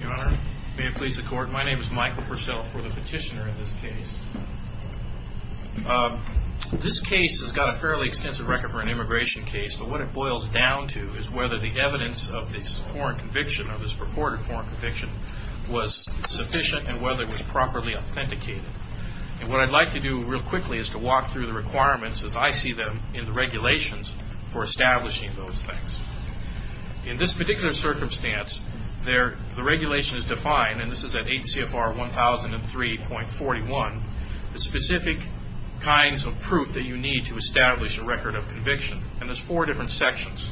My name is Michael Purcell for the petitioner in this case. This case has got a fairly extensive record for an immigration case, but what it boils down to is whether the evidence of this foreign conviction or this purported foreign conviction was sufficient and whether it was properly authenticated. And what I'd like to do real quickly is to walk through the requirements as I see them in the regulations for establishing those things. In this particular circumstance, the regulation is defined, and this is at 8 CFR 1003.41, the specific kinds of proof that you need to establish a record of conviction. And there's four different sections.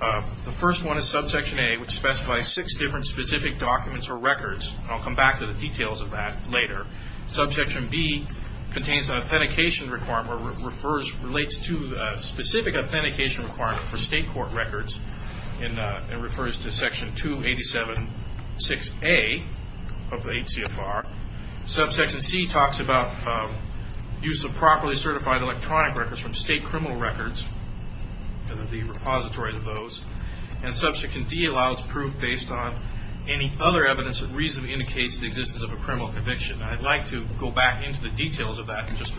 The first one is subsection A, which specifies six different specific documents or records. I'll come back to the details of that later. Subsection B contains an authentication requirement or refers, relates to a specific authentication requirement for state court records and refers to section 287.6A of the 8 CFR. Subsection C talks about use of properly certified electronic records from state criminal records and the repository of those. And subsection D allows proof based on any other evidence that reasonably indicates the existence of a criminal conviction. I'd like to go back into the details of that in a minute.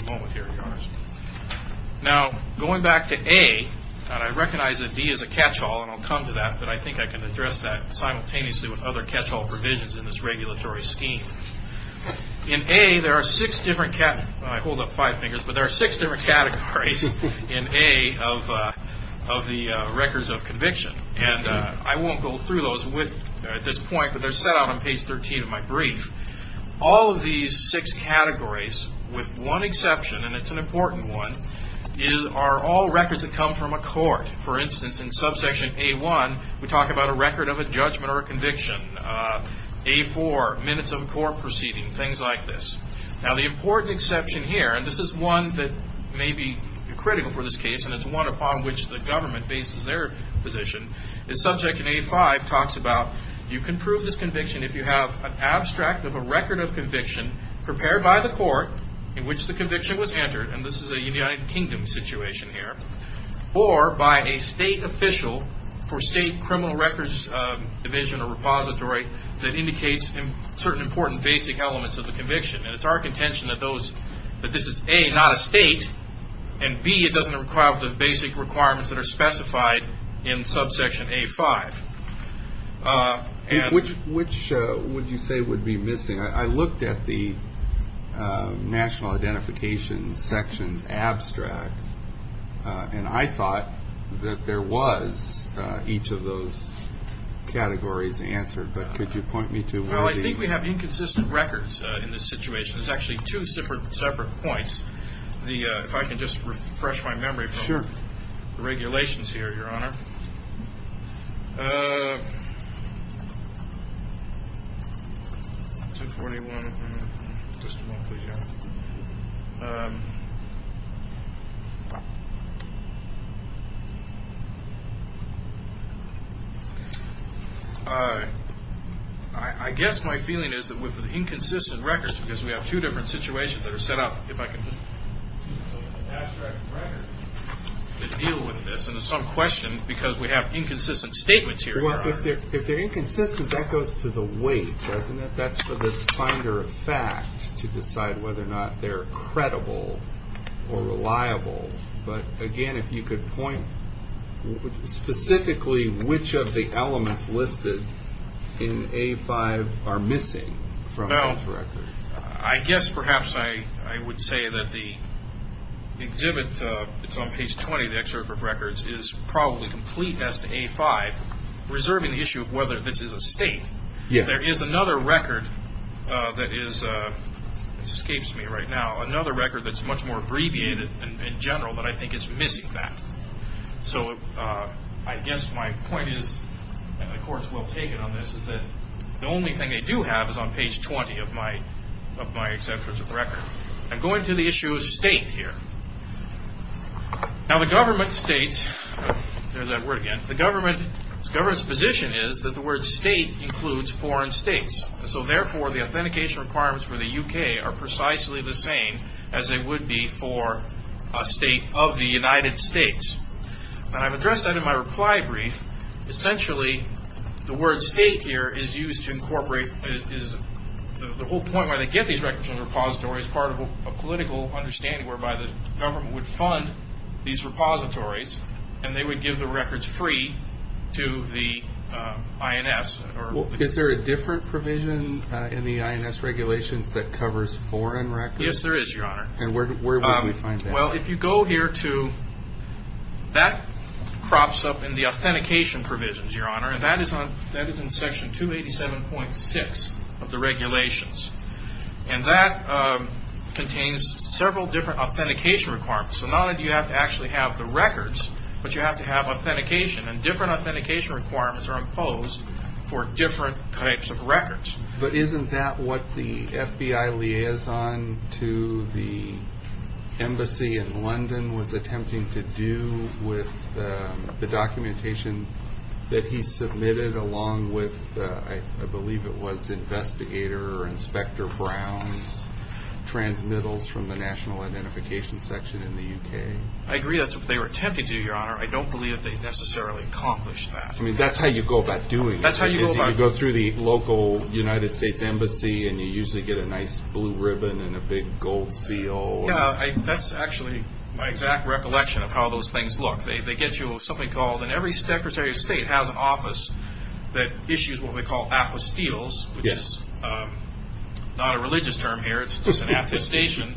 I recognize that D is a catch-all, and I'll come to that, but I think I can address that simultaneously with other catch-all provisions in this regulatory scheme. In A, there are six different categories of the records of conviction. And I won't go through those at this point, but they're set out on page 13 of my brief. All of these six categories, with one exception, and it's an important one, are all records that come from a court. For instance, in subsection A1, we talk about a record of a judgment or a conviction. A4, minutes of a court proceeding, things like this. Now the important exception here, and this is one that may be critical for this case, and it's one upon which the government bases their position, is subject in A5 talks about you can prove this conviction if you have an abstract of a record of conviction prepared by the court in which the conviction was entered, and this is a United Kingdom situation here, or by a state official for state criminal records division or repository that indicates certain important basic elements of the conviction. And it's our contention that this is A, not a state, and B, it doesn't require the basic requirements that are specified in subsection A5. Which would you say would be missing? I looked at the national identification sections abstract, and I thought that there was each of those categories answered, but could you point me to one of the... Well, I think we have inconsistent records in this situation. There's actually two separate points. If I can just refresh my memory from the regulations here, Your Honor. I guess my feeling is that with inconsistent records, because we have two different situations that deal with this, and it's some question because we have inconsistent statements here, Your Honor. Well, if they're inconsistent, that goes to the weight, doesn't it? That's for the finder of fact to decide whether or not they're credible or reliable. But again, if you could point specifically, which of the elements listed in A5 are missing from those records? I guess perhaps I would say that the exhibit that's on page 20 of the excerpt of records is probably complete as to A5, reserving the issue of whether this is a state. There is another record that is, this escapes me right now, another record that's much more abbreviated in general that I think is missing that. So I guess my point is, and the court's well I'm going to the issue of state here. Now the government states, there's that word again, the government's position is that the word state includes foreign states. So therefore, the authentication requirements for the UK are precisely the same as they would be for a state of the United States. And I've addressed that in my reply brief. Essentially, the word state, the reason why they get these records in the repository is part of a political understanding whereby the government would fund these repositories and they would give the records free to the INS. Is there a different provision in the INS regulations that covers foreign records? Yes, there is, Your Honor. And where would we find that? Well, if you go here to, that crops up in the authentication provisions, Your Honor, and that is in section 287.6 of the regulations. And that contains several different authentication requirements. So not only do you have to actually have the records, but you have to have authentication. And different authentication requirements are imposed for different types of records. But isn't that what the FBI liaison to the embassy in London was attempting to do with the documentation that he submitted along with, I believe it was, Investigator Inspector Brown's transmittals from the National Identification Section in the UK? I agree that's what they were attempting to do, Your Honor. I don't believe they necessarily accomplished that. I mean, that's how you go about doing it. That's how you go about doing it. You go through the local United States Embassy and you usually get a nice blue ribbon and a big gold seal. Yeah, that's actually my exact recollection of how those things look. They get you something called, and every Secretary of State has an office that issues what we call apostills, which is not a religious term here. It's just an attestation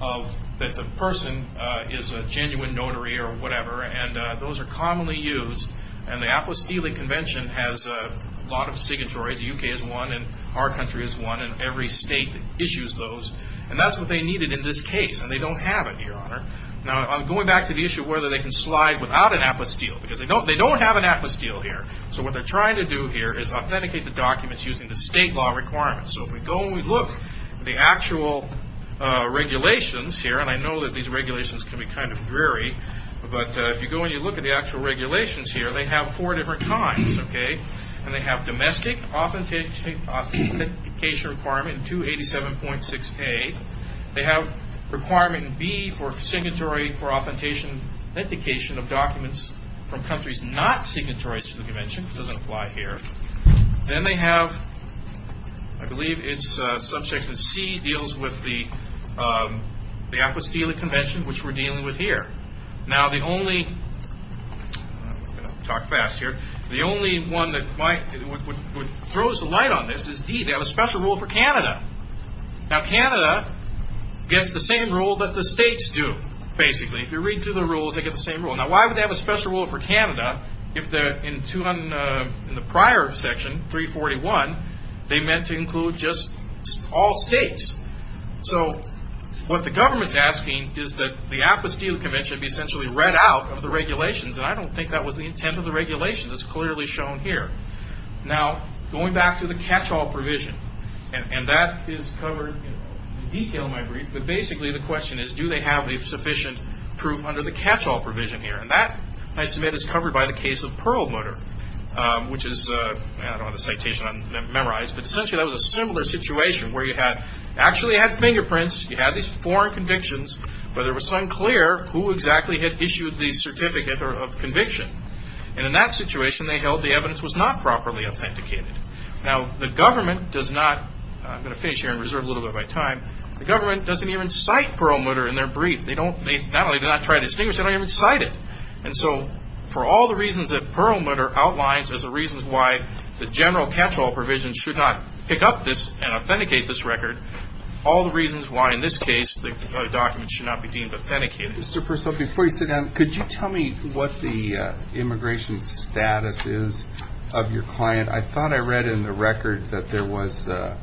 that the person is a genuine notary or whatever. And those are commonly used. And the apostilling convention has a lot of signatories. The UK is one and our country is one. And every state issues those. And that's what they needed in this case. And they don't have it, Your Honor. Now, I'm going back to the issue of whether they can slide without an apostill. Because they don't have an apostill here. So what they're trying to do here is authenticate the documents using the state law requirements. So if we go and we look at the actual regulations here, and I know that these regulations can be kind of dreary, but if you go and you look at the actual regulations here, they have four different kinds. And they have domestic authentication requirement in 287.6K. They have requirement in B for signatory for authentication of documents from countries not signatories to the convention. It doesn't apply here. Then they have, I believe it's subject to C, deals with the apostilla convention, which we're dealing with here. Now, the only one that throws the light on this is D. They have a special rule for Canada. Now, Canada gets the same rule that the states do, basically. If you read through the rules, they get the same rule. Now, why would they have a special rule for Canada if in the prior section, 341, they meant to include just all states? So what the government is asking is that the apostilla convention be essentially read out of the regulations. And I don't think that was the intent of the regulations. It's clearly shown here. Now, going back to the catch-all provision, and that is covered in detail in my brief. But basically, the question is, do they have the sufficient proof under the catch-all provision here? And that, I submit, is covered by the case of Perlmutter, which is, I don't have the citation memorized, but essentially that was a similar situation where you actually had fingerprints, you had these foreign convictions, but it was unclear who exactly had issued the certificate of conviction. And in that situation, they held the evidence was not properly authenticated. Now, the government does not, I'm going to finish here and reserve a little bit of my time, the government doesn't even cite Perlmutter in their brief. They don't, not only do they not try to distinguish, they don't even cite it. And so for all the reasons that Perlmutter outlines as the reasons why the general catch-all provision should not pick up this and authenticate this record, all the reasons why in this case the document should not be deemed authenticated. Mr. Purcell, before you sit down, could you tell me what the immigration status is of your client? I thought I read in the record that there was a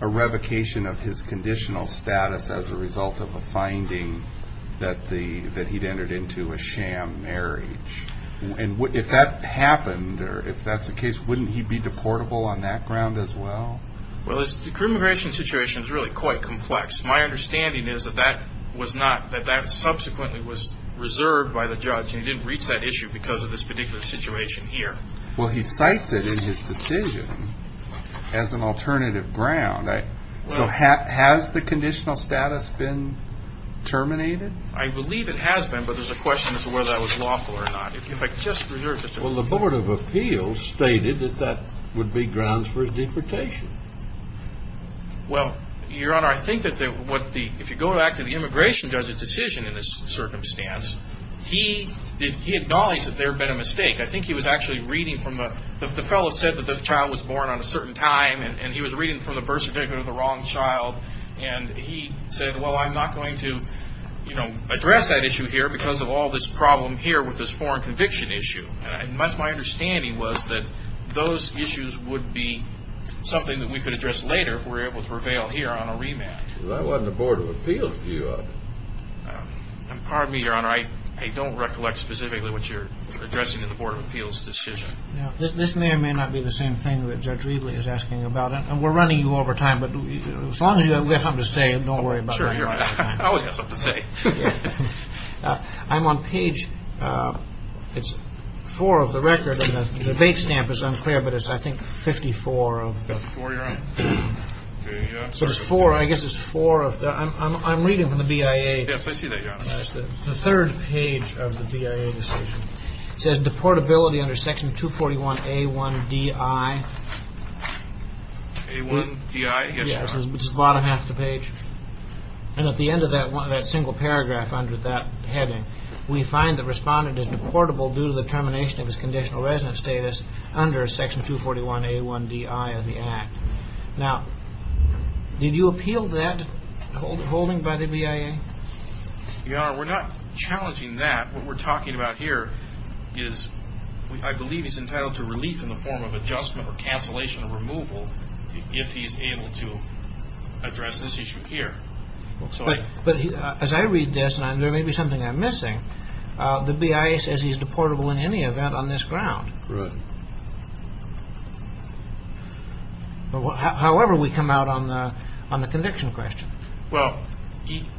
revocation of his conditional status as a result of a finding that he'd entered into a sham marriage. And if that happened or if that's the case, wouldn't he be deportable on that ground as well? Well, the immigration situation is really quite complex. My understanding is that that was not, that that subsequently was reserved by the judge and he didn't reach that issue because of this particular situation here. Well, he cites it in his decision as an alternative ground. So has the conditional status been terminated? I believe it has been, but there's a question as to whether that was lawful or not. If I could just reserve the time. Well, the Board of Appeals stated that that would be grounds for his deportation. Well, Your Honor, I think that what the, if you go back to the immigration judge's decision in this circumstance, he did, he acknowledged that there had been a mistake. I think he was actually reading from a, the fellow said that the child was born on a certain time and he was reading from the birth certificate of the wrong child and he said, well, I'm not going to, you know, address that issue here because of all this problem here with this foreign conviction issue. And that's my understanding was that those issues would be something that we could address later if we were able to prevail here on a remand. Well, that wasn't the Board of Appeals view of it. Pardon me, Your Honor. I don't recollect specifically what you're addressing in the Board of Appeals decision. This may or may not be the same thing that Judge Riedley is asking about. And we're running you over time, but as long as you have something to say, don't worry about it. Sure, Your Honor. I always have something to say. I'm on page, it's four of the record and the date stamp is unclear, but it's I think 54 of That's four, Your Honor. So it's four, I guess it's four of the, I'm reading from the BIA. Yes, I see that, Your Honor. The third page of the BIA decision. It says deportability under section 241A1DI. A1DI, yes, Your Honor. It's the bottom half of the page. And at the end of that single paragraph under that heading, we find the respondent is deportable due to the termination of his conditional resident status under section 241A1DI of the Act. Now, did you appeal that holding by the BIA? Your Honor, we're not challenging that. What we're talking about here is I believe he's entitled to relief in the form of adjustment or cancellation of removal if he's able to address this issue here. But as I read this, and there may be something I'm missing, the BIA says he's deportable in any event on this ground. Right. However, we come out on the conviction question. Well,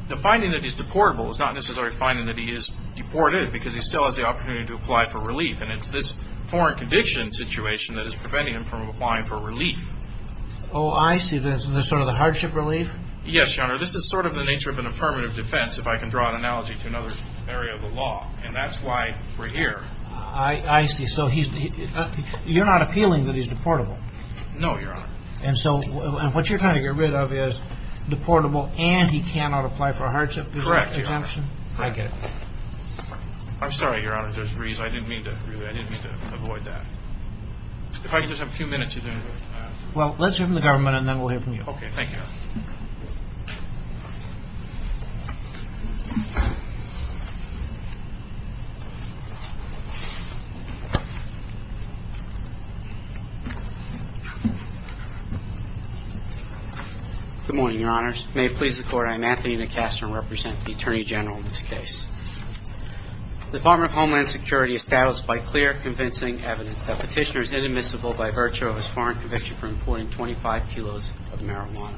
the finding that he's deportable is not necessarily finding that he is deported because he still has the opportunity to apply for relief, and it's this foreign conviction situation that is preventing him from applying for relief. Oh, I see. This is sort of the hardship relief? Yes, Your Honor. This is sort of the nature of an affirmative defense if I can draw an analogy to another area of the law, and that's why we're here. I see. So you're not appealing that he's deportable? No, Your Honor. And so what you're trying to get rid of is deportable and he cannot apply for a hardship exemption? Correct, Your Honor. I get it. I'm sorry, Your Honor, there's a reason I didn't mean to avoid that. If I can just have a few minutes, he's going to go. Well, let's hear from the government and then we'll hear from you. Okay, thank you. Good morning, Your Honors. May it please the Court, I am Anthony DeCastro and represent the Attorney General in this case. The Department of Homeland Security established by clear, convincing evidence that Petitioner is inadmissible by virtue of his of marijuana.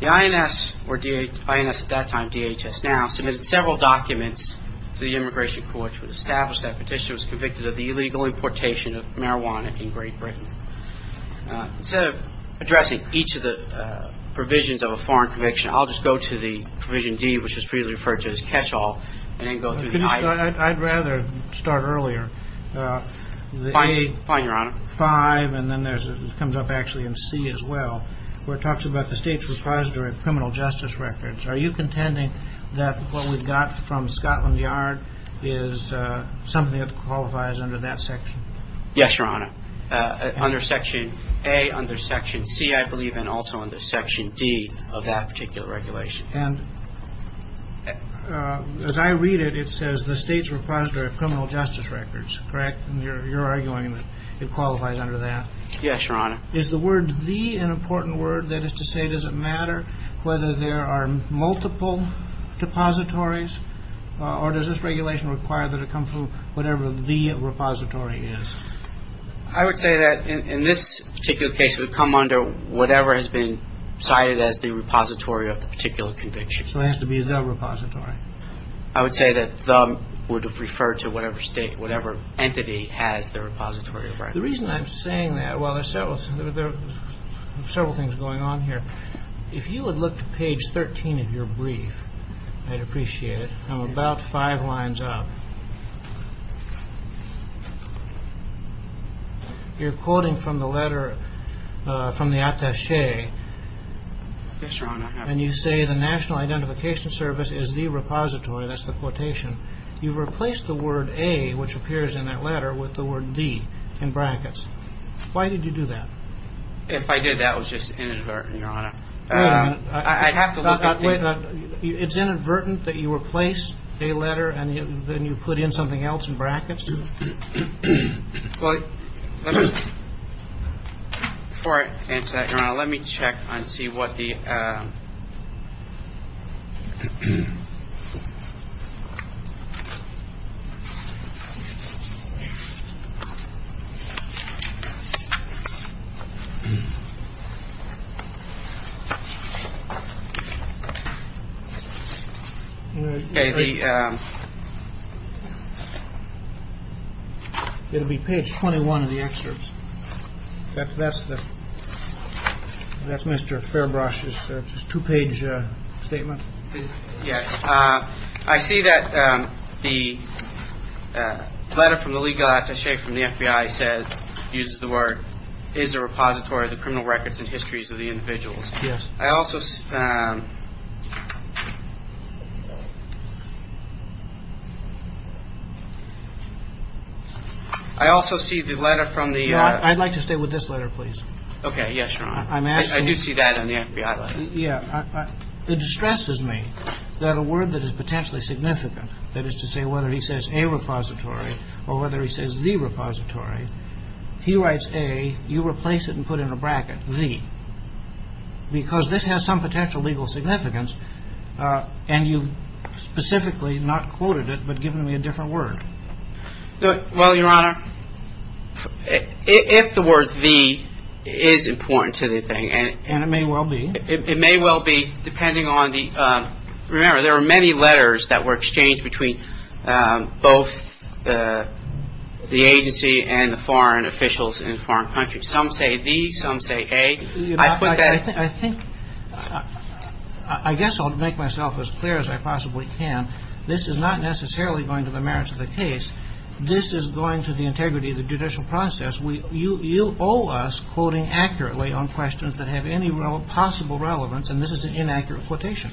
The INS, or INS at that time, DHS now, submitted several documents to the Immigration Court which would establish that Petitioner was convicted of the illegal importation of marijuana in Great Britain. Instead of addressing each of the provisions of a foreign conviction, I'll just go to the provision D, which was previously referred to as catch-all, and then go through the item. I'd rather start earlier. Fine, Your Honor. In Section 5, and then there's, it comes up actually in C as well, where it talks about the state's repository of criminal justice records. Are you contending that what we've got from Scotland Yard is something that qualifies under that section? Yes, Your Honor. Under Section A, under Section C, I believe, and also under Section D of that particular regulation. And as I read it, it says the state's repository of criminal justice records, correct? And you're arguing that it qualifies under that? Yes, Your Honor. Is the word the an important word? That is to say, does it matter whether there are multiple depositories, or does this regulation require that it come from whatever the repository is? I would say that in this particular case, it would come under whatever has been cited as the repository of the particular conviction. So it has to be the repository. I would say that the would have referred to whatever state, whatever entity has the repository of records. The reason I'm saying that, well, there are several things going on here. If you would look to page 13 of your brief, I'd appreciate it. I'm about five lines up. You're quoting from the letter from the attache. Yes, Your Honor. And you say the National Identification Service is the repository, that's the quotation. You've replaced the word A, which appears in that letter, with the word D in brackets. Why did you do that? If I did, that was just inadvertent, Your Honor. I'd have to look at the- It's inadvertent that you replace a letter and then you put in something else in brackets? Well, before I answer that, Your Honor, let me check and see what the- It'll be page 21 of the excerpts. That's Mr. Fairbrush's two-page statement. Yes. I see that the letter from the legal attache from the FBI says, uses the word, is a repository of the criminal records and histories of the individuals. Yes. I also- I also see the letter from the- I'd like to stay with this letter, please. Okay. Yes, Your Honor. I'm asking- I do see that in the FBI letter. Yeah. It distresses me that a word that is potentially significant, that is to say whether he says a repository or whether he says the repository, he writes A, you replace it and put in a bracket, the. Because this has some potential legal significance and you've specifically not quoted it but given me a different word. Well, Your Honor, if the word the is important to the thing- And it may well be. It may well be depending on the- Remember, there were many letters that were exchanged between both the agency and the foreign officials in foreign countries. Some say the, some say A. I put that- I think- I guess I'll make myself as clear as I possibly can. This is not necessarily going to the merits of the case. This is going to the integrity of the judicial process. You owe us quoting accurately on questions that have any possible relevance and this is an inaccurate quotation.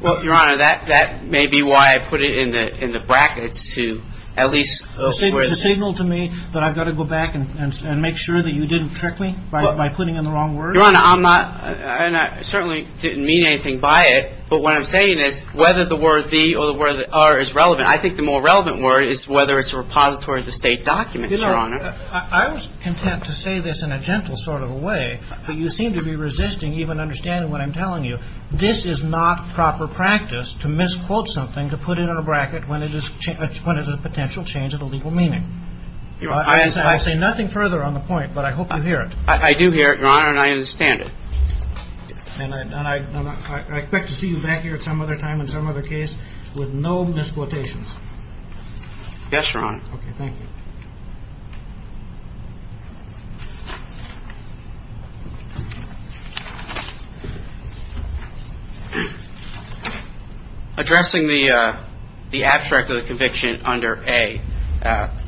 Well, Your Honor, that may be why I put it in the brackets to at least- Does it signal to me that I've got to go back and make sure that you didn't trick me by putting in the wrong word? Your Honor, I'm not, and I certainly didn't mean anything by it, but what I'm saying is whether the word the or the word are is relevant. I think the more relevant word is whether it's a repository of the State documents, Your Honor. I was content to say this in a gentle sort of a way, but you seem to be resisting even understanding what I'm telling you. This is not proper practice to misquote something to put it in a bracket when it is a potential change of the legal meaning. I say nothing further on the point, but I hope you hear it. I do hear it, Your Honor, and I understand it. And I expect to see you back here at some other time in some other case with no misquotations. Yes, Your Honor. Okay, thank you. Addressing the abstract of the conviction under A,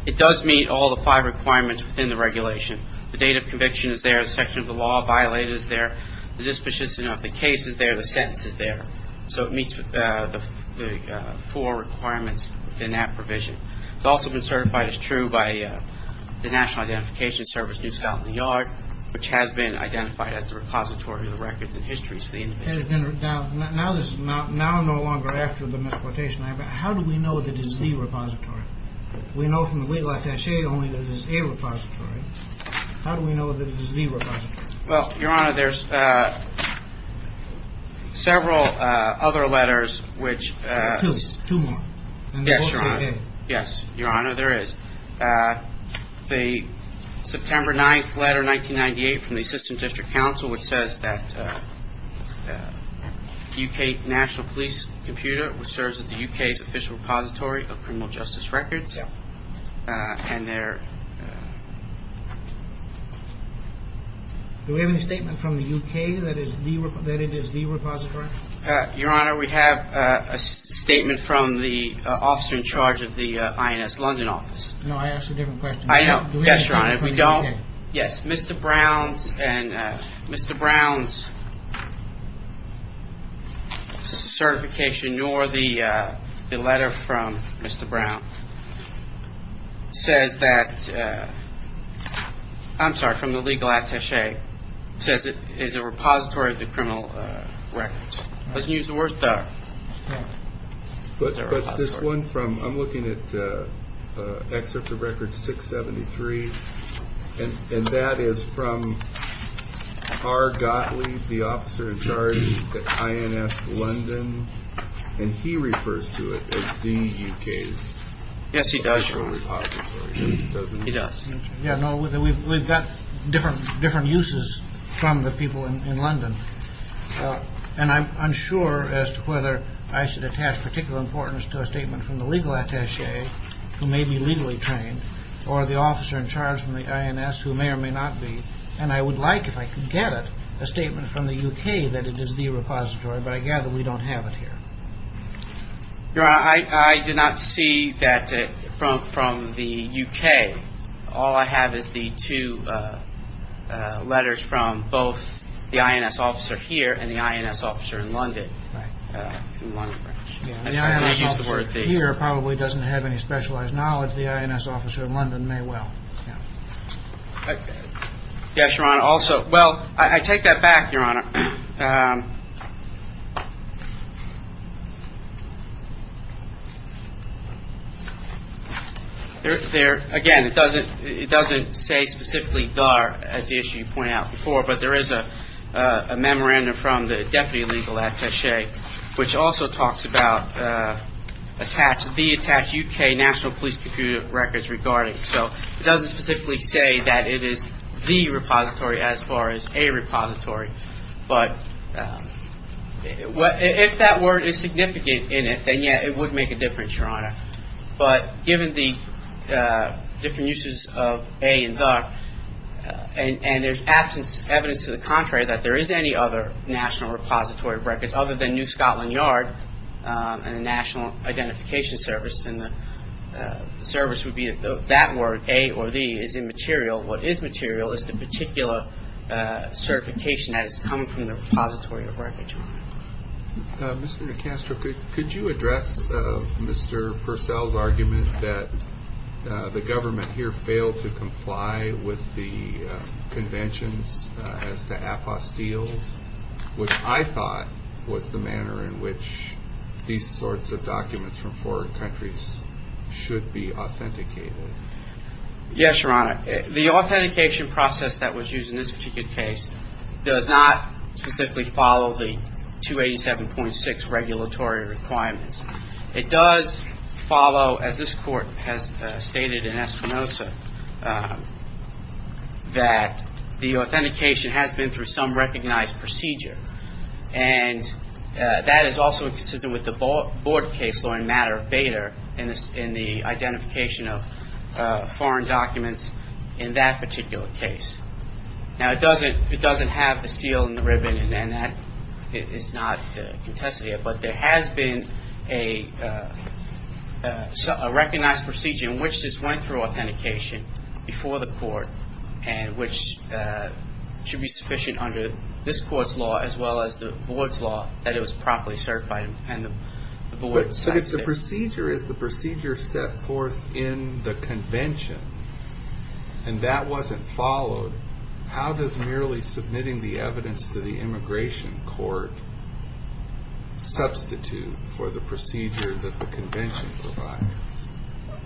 it does meet all the five requirements within the regulation. The date of conviction is there. The section of the law violated is there. The disposition of the case is there. The sentence is there. So it meets the four requirements within that provision. It's also been certified as true by the Federal Code. The National Identification Service, New South and the Yard, which has been identified as the repository of the records and histories for the individual. Now, no longer after the misquotation, how do we know that it's the repository? We know from the weight like cachet only that it's a repository. How do we know that it's the repository? Well, Your Honor, there's several other letters which – Two, two more. Yes, Your Honor. And they both say A. Yes, Your Honor, there is. The September 9th letter, 1998, from the Assistant District Counsel, which says that UK National Police Computer, which serves as the UK's official repository of criminal justice records and their – Do we have any statement from the UK that it is the repository? Your Honor, we have a statement from the officer in charge of the INS London office. No, I asked a different question. I know. Yes, Your Honor. Do we have a statement from the UK? Yes, Mr. Brown's certification, nor the letter from Mr. Brown, says that – I'm sorry, from the legal attaché, says it is a repository of the criminal records. Let's use the word the. But this one from – I'm looking at Excerpt of Record 673, and that is from R. Gottlieb, the officer in charge at INS London, and he refers to it as the UK's official repository. Yes, he does, Your Honor. He does. Yes, no, we've got different uses from the people in London, and I'm unsure as to whether I should attach particular importance to a statement from the legal attaché, who may be legally trained, or the officer in charge from the INS, who may or may not be. And I would like, if I could get it, a statement from the UK that it is the repository, but I gather we don't have it here. Your Honor, I did not see that from the UK. All I have is the two letters from both the INS officer here and the INS officer in London. The INS officer here probably doesn't have any specialized knowledge. The INS officer in London may well. Yes, Your Honor, also, well, I take that back, Your Honor. Again, it doesn't say specifically D.A.R. as the issue you pointed out before, but there is a memorandum from the Deputy Legal Attaché, which also talks about the attached UK National Police Computer records regarding. So it doesn't specifically say that it is the repository as far as a repository. But if that word is significant in it, then, yes, it would make a difference, Your Honor. But given the different uses of A and D.A.R., and there's absence of evidence to the contrary that there is any other national repository records other than New Scotland Yard and the National Identification Service, and the service would be that word, A or D, is immaterial. What is material is the particular certification that has come from the repository of records, Your Honor. Mr. DeCastro, could you address Mr. Purcell's argument that the government here failed to comply with the conventions as to APOS deals, which I thought was the manner in which these sorts of documents from foreign countries should be authenticated? Yes, Your Honor. The authentication process that was used in this particular case does not specifically follow the 287.6 regulatory requirements. It does follow, as this Court has stated in Espinoza, that the authentication has been through some recognized procedure. And that is also consistent with the Board case law in matter of B.A.T.A. in the identification of foreign documents in that particular case. Now, it doesn't have the seal and the ribbon, and that is not contested here, but there has been a recognized procedure in which this went through authentication before the Court, which should be sufficient under this Court's law as well as the Board's law that it was properly certified. But if the procedure is the procedure set forth in the convention, and that wasn't followed, how does merely submitting the evidence to the immigration court substitute for the procedure that the convention provides?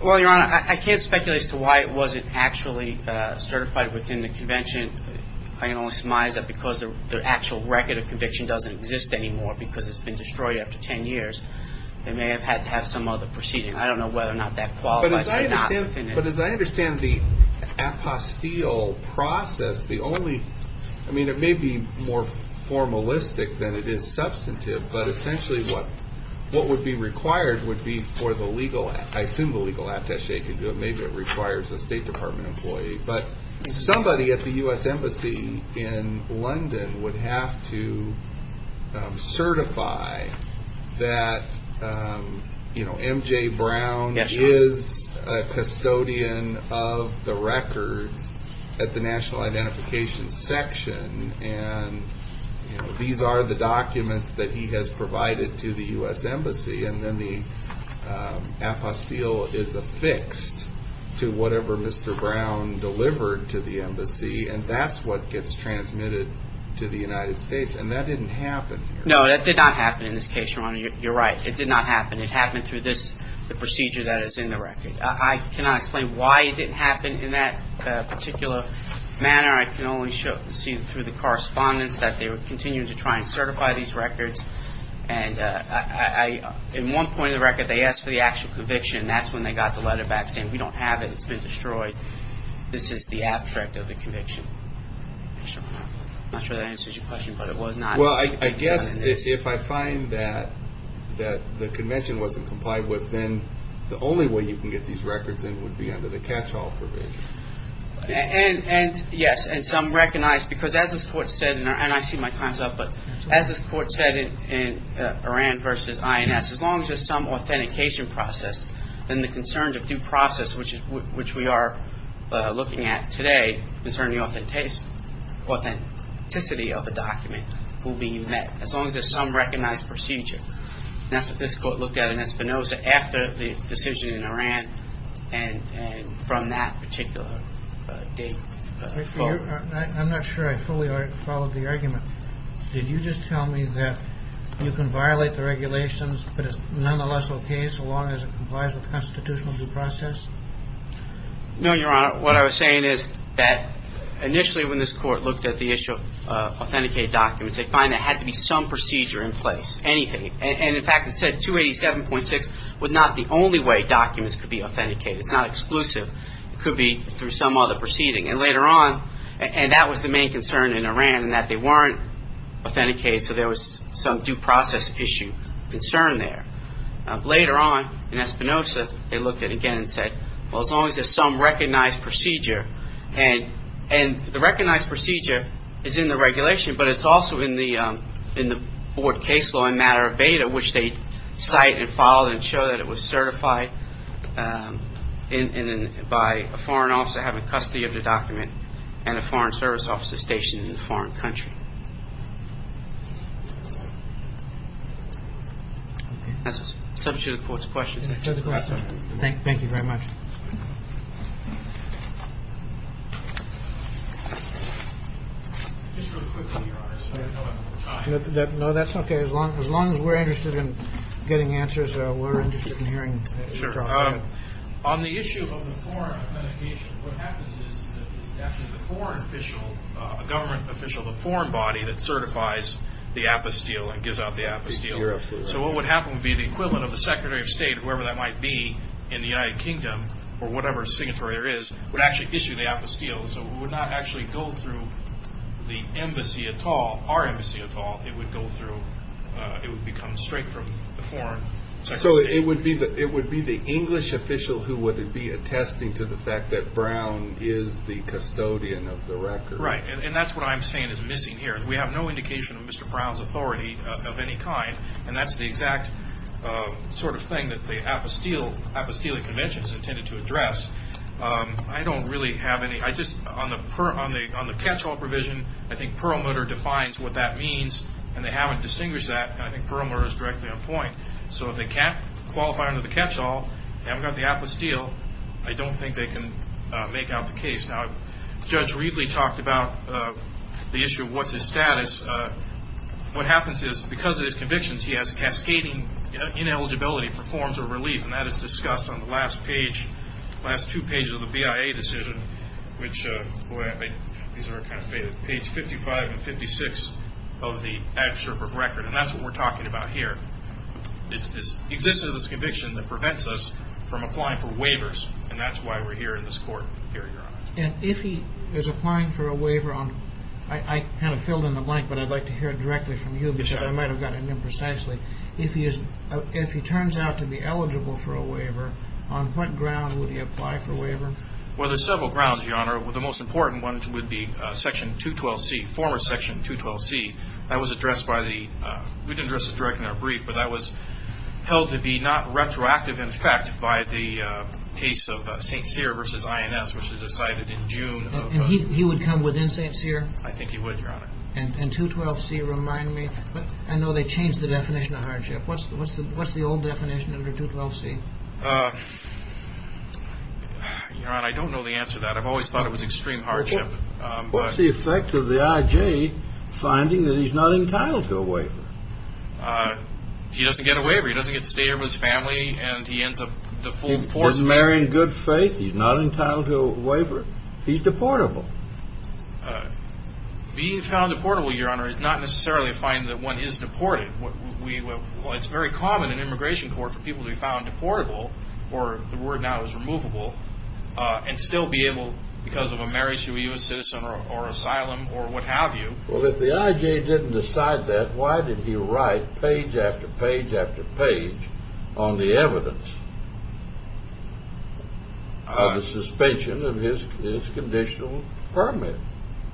Well, Your Honor, I can't speculate as to why it wasn't actually certified within the convention. I can only surmise that because the actual record of conviction doesn't exist anymore, because it's been destroyed after 10 years, they may have had to have some other procedure. I don't know whether or not that qualifies or not. But as I understand the apostille process, I mean, it may be more formalistic than it is substantive, but essentially what would be required would be for the legal, I assume the legal attache could do it, maybe it requires a State Department employee, but somebody at the U.S. Embassy in London would have to certify that M.J. Brown is a custodian of the records at the National Identification Section, and these are the documents that he has provided to the U.S. Embassy, and then the apostille is affixed to whatever Mr. Brown delivered to the Embassy, and that's what gets transmitted to the United States, and that didn't happen here. No, that did not happen in this case, Your Honor. You're right. It did not happen. It happened through this, the procedure that is in the record. I cannot explain why it didn't happen in that particular manner. I can only see through the correspondence that they were continuing to try and certify these records, and in one point of the record they asked for the actual conviction, and that's when they got the letter back saying, we don't have it, it's been destroyed. This is the abstract of the conviction. I'm not sure that answers your question, but it was not. Well, I guess if I find that the convention wasn't complied with, then the only way you can get these records in would be under the catch-all provision. Yes, and some recognize, because as this Court said, and I see my time's up, but as this Court said in Oran v. INS, as long as there's some authentication process, then the concerns of due process, which we are looking at today, concerning the authenticity of the document will be met, as long as there's some recognized procedure. And that's what this Court looked at in Espinoza after the decision in Oran and from that particular date. I'm not sure I fully followed the argument. Did you just tell me that you can violate the regulations, but it's nonetheless okay so long as it complies? No, Your Honor. What I was saying is that initially when this Court looked at the issue of authenticated documents, they find there had to be some procedure in place, anything. And in fact, it said 287.6 was not the only way documents could be authenticated. It's not exclusive. It could be through some other proceeding. And later on, and that was the main concern in Oran, in that they weren't authenticated, so there was some due process issue, concern there. Later on, in Espinoza, they looked at it again and said, well, as long as there's some recognized procedure. And the recognized procedure is in the regulation, but it's also in the board case law in matter of beta, which they cite and follow and show that it was certified by a foreign officer having custody of the document and a foreign service officer stationed in a foreign country. And that's essentially the Court's question. Thank you very much. No, that's okay. As long as we're interested in getting answers, we're interested in hearing. On the issue of the foreign authentication, what happens is that it's actually the foreign official, a government official, the foreign body that certifies the apostille and gives out the apostille. So what would happen would be the equivalent of the Secretary of State, whoever that might be in the United Kingdom, or whatever signatory there is, would actually issue the apostille. So it would not actually go through the embassy at all, our embassy at all. It would go through, it would become straight from the foreign Secretary of State. So it would be the English official who would be attesting to the fact that Brown is the custodian of the record. Right, and that's what I'm saying is missing here. We have no indication of Mr. Brown's authority of any kind, and that's the exact sort of thing that the apostille convention is intended to address. I don't really have any. I just, on the catch-all provision, I think Perlmutter defines what that means, and they haven't distinguished that, and I think Perlmutter is directly on point. So if they can't qualify under the catch-all, they haven't got the apostille, I don't think they can make out the case. Now, Judge Reedley talked about the issue of what's his status. What happens is because of his convictions, he has cascading ineligibility for forms of relief, and that is discussed on the last page, last two pages of the BIA decision, which, these are kind of faded, page 55 and 56 of the Adversary Book of Records, and that's what we're talking about here. It's this existence of this conviction that prevents us from applying for waivers, and that's why we're here in this court here, Your Honor. And if he is applying for a waiver on, I kind of filled in the blank, but I'd like to hear it directly from you because I might have gotten it imprecisely. If he turns out to be eligible for a waiver, on what ground would he apply for a waiver? Well, there's several grounds, Your Honor. The most important one would be Section 212C, former Section 212C. That was addressed by the, we didn't address this directly in our brief, but that was held to be not retroactive in effect by the case of St. Cyr versus INS, which was decided in June. And he would come within St. Cyr? I think he would, Your Honor. And 212C, remind me, I know they changed the definition of hardship. What's the old definition under 212C? Your Honor, I don't know the answer to that. I've always thought it was extreme hardship. What's the effect of the I.G. finding that he's not entitled to a waiver? He doesn't get a waiver. He doesn't get to stay here with his family, and he ends up the full force of it. He's married in good faith. He's not entitled to a waiver. He's deportable. Being found deportable, Your Honor, is not necessarily a fine that one is deported. It's very common in immigration court for people to be found deportable, or the word now is removable, and still be able, because of a marriage to a U.S. citizen or asylum or what have you. Well, if the I.G. didn't decide that, why did he write page after page after page on the evidence of the suspension of his conditional permit?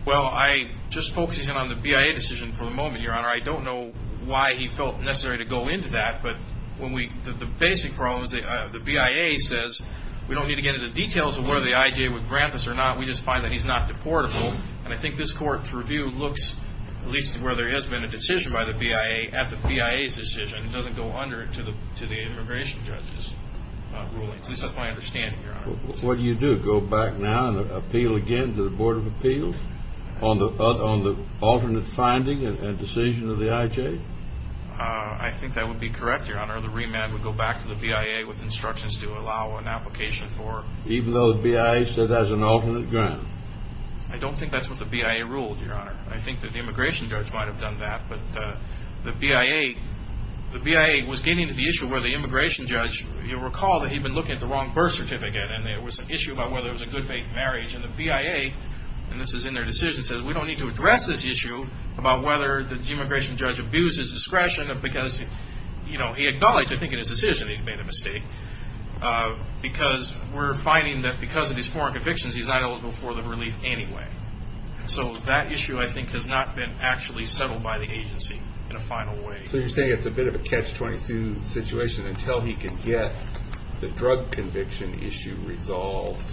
Well, I just focused in on the BIA decision for the moment, Your Honor. I don't know why he felt necessary to go into that. The basic problem is the BIA says, we don't need to get into details of whether the I.G. would grant this or not. We just find that he's not deportable. And I think this court's review looks, at least where there has been a decision by the BIA, at the BIA's decision. It doesn't go under to the immigration judge's ruling. At least that's my understanding, Your Honor. What do you do? Go back now and appeal again to the Board of Appeals on the alternate finding and decision of the I.G.? I think that would be correct, Your Honor. The remand would go back to the BIA with instructions to allow an application for... Even though the BIA said that's an alternate grant? I don't think that's what the BIA ruled, Your Honor. I think that the immigration judge might have done that. But the BIA was getting to the issue where the immigration judge, you'll recall that he'd been looking at the wrong birth certificate, and there was an issue about whether it was a good faith marriage. And the BIA, and this is in their decision, says, we don't need to address this issue about whether the immigration judge abused his discretion, because he acknowledged, I think, in his decision he'd made a mistake, because we're finding that because of these foreign convictions, he's not eligible for the relief anyway. So that issue, I think, has not been actually settled by the agency in a final way. So you're saying it's a bit of a catch-22 situation. Until he can get the drug conviction issue resolved,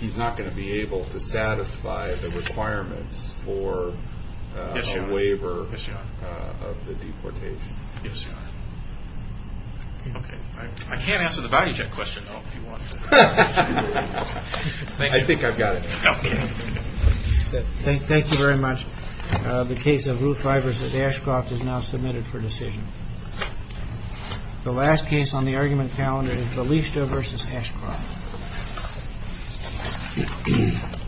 he's not going to be able to satisfy the requirements for a waiver of the deportation. Yes, Your Honor. Okay. I can't answer the value check question, though, if you want. I think I've got it. Okay. Thank you very much. The case of Ruth Rivers and Ashcroft is now submitted for decision. The last case on the argument calendar is Balista v. Ashcroft. Thank you.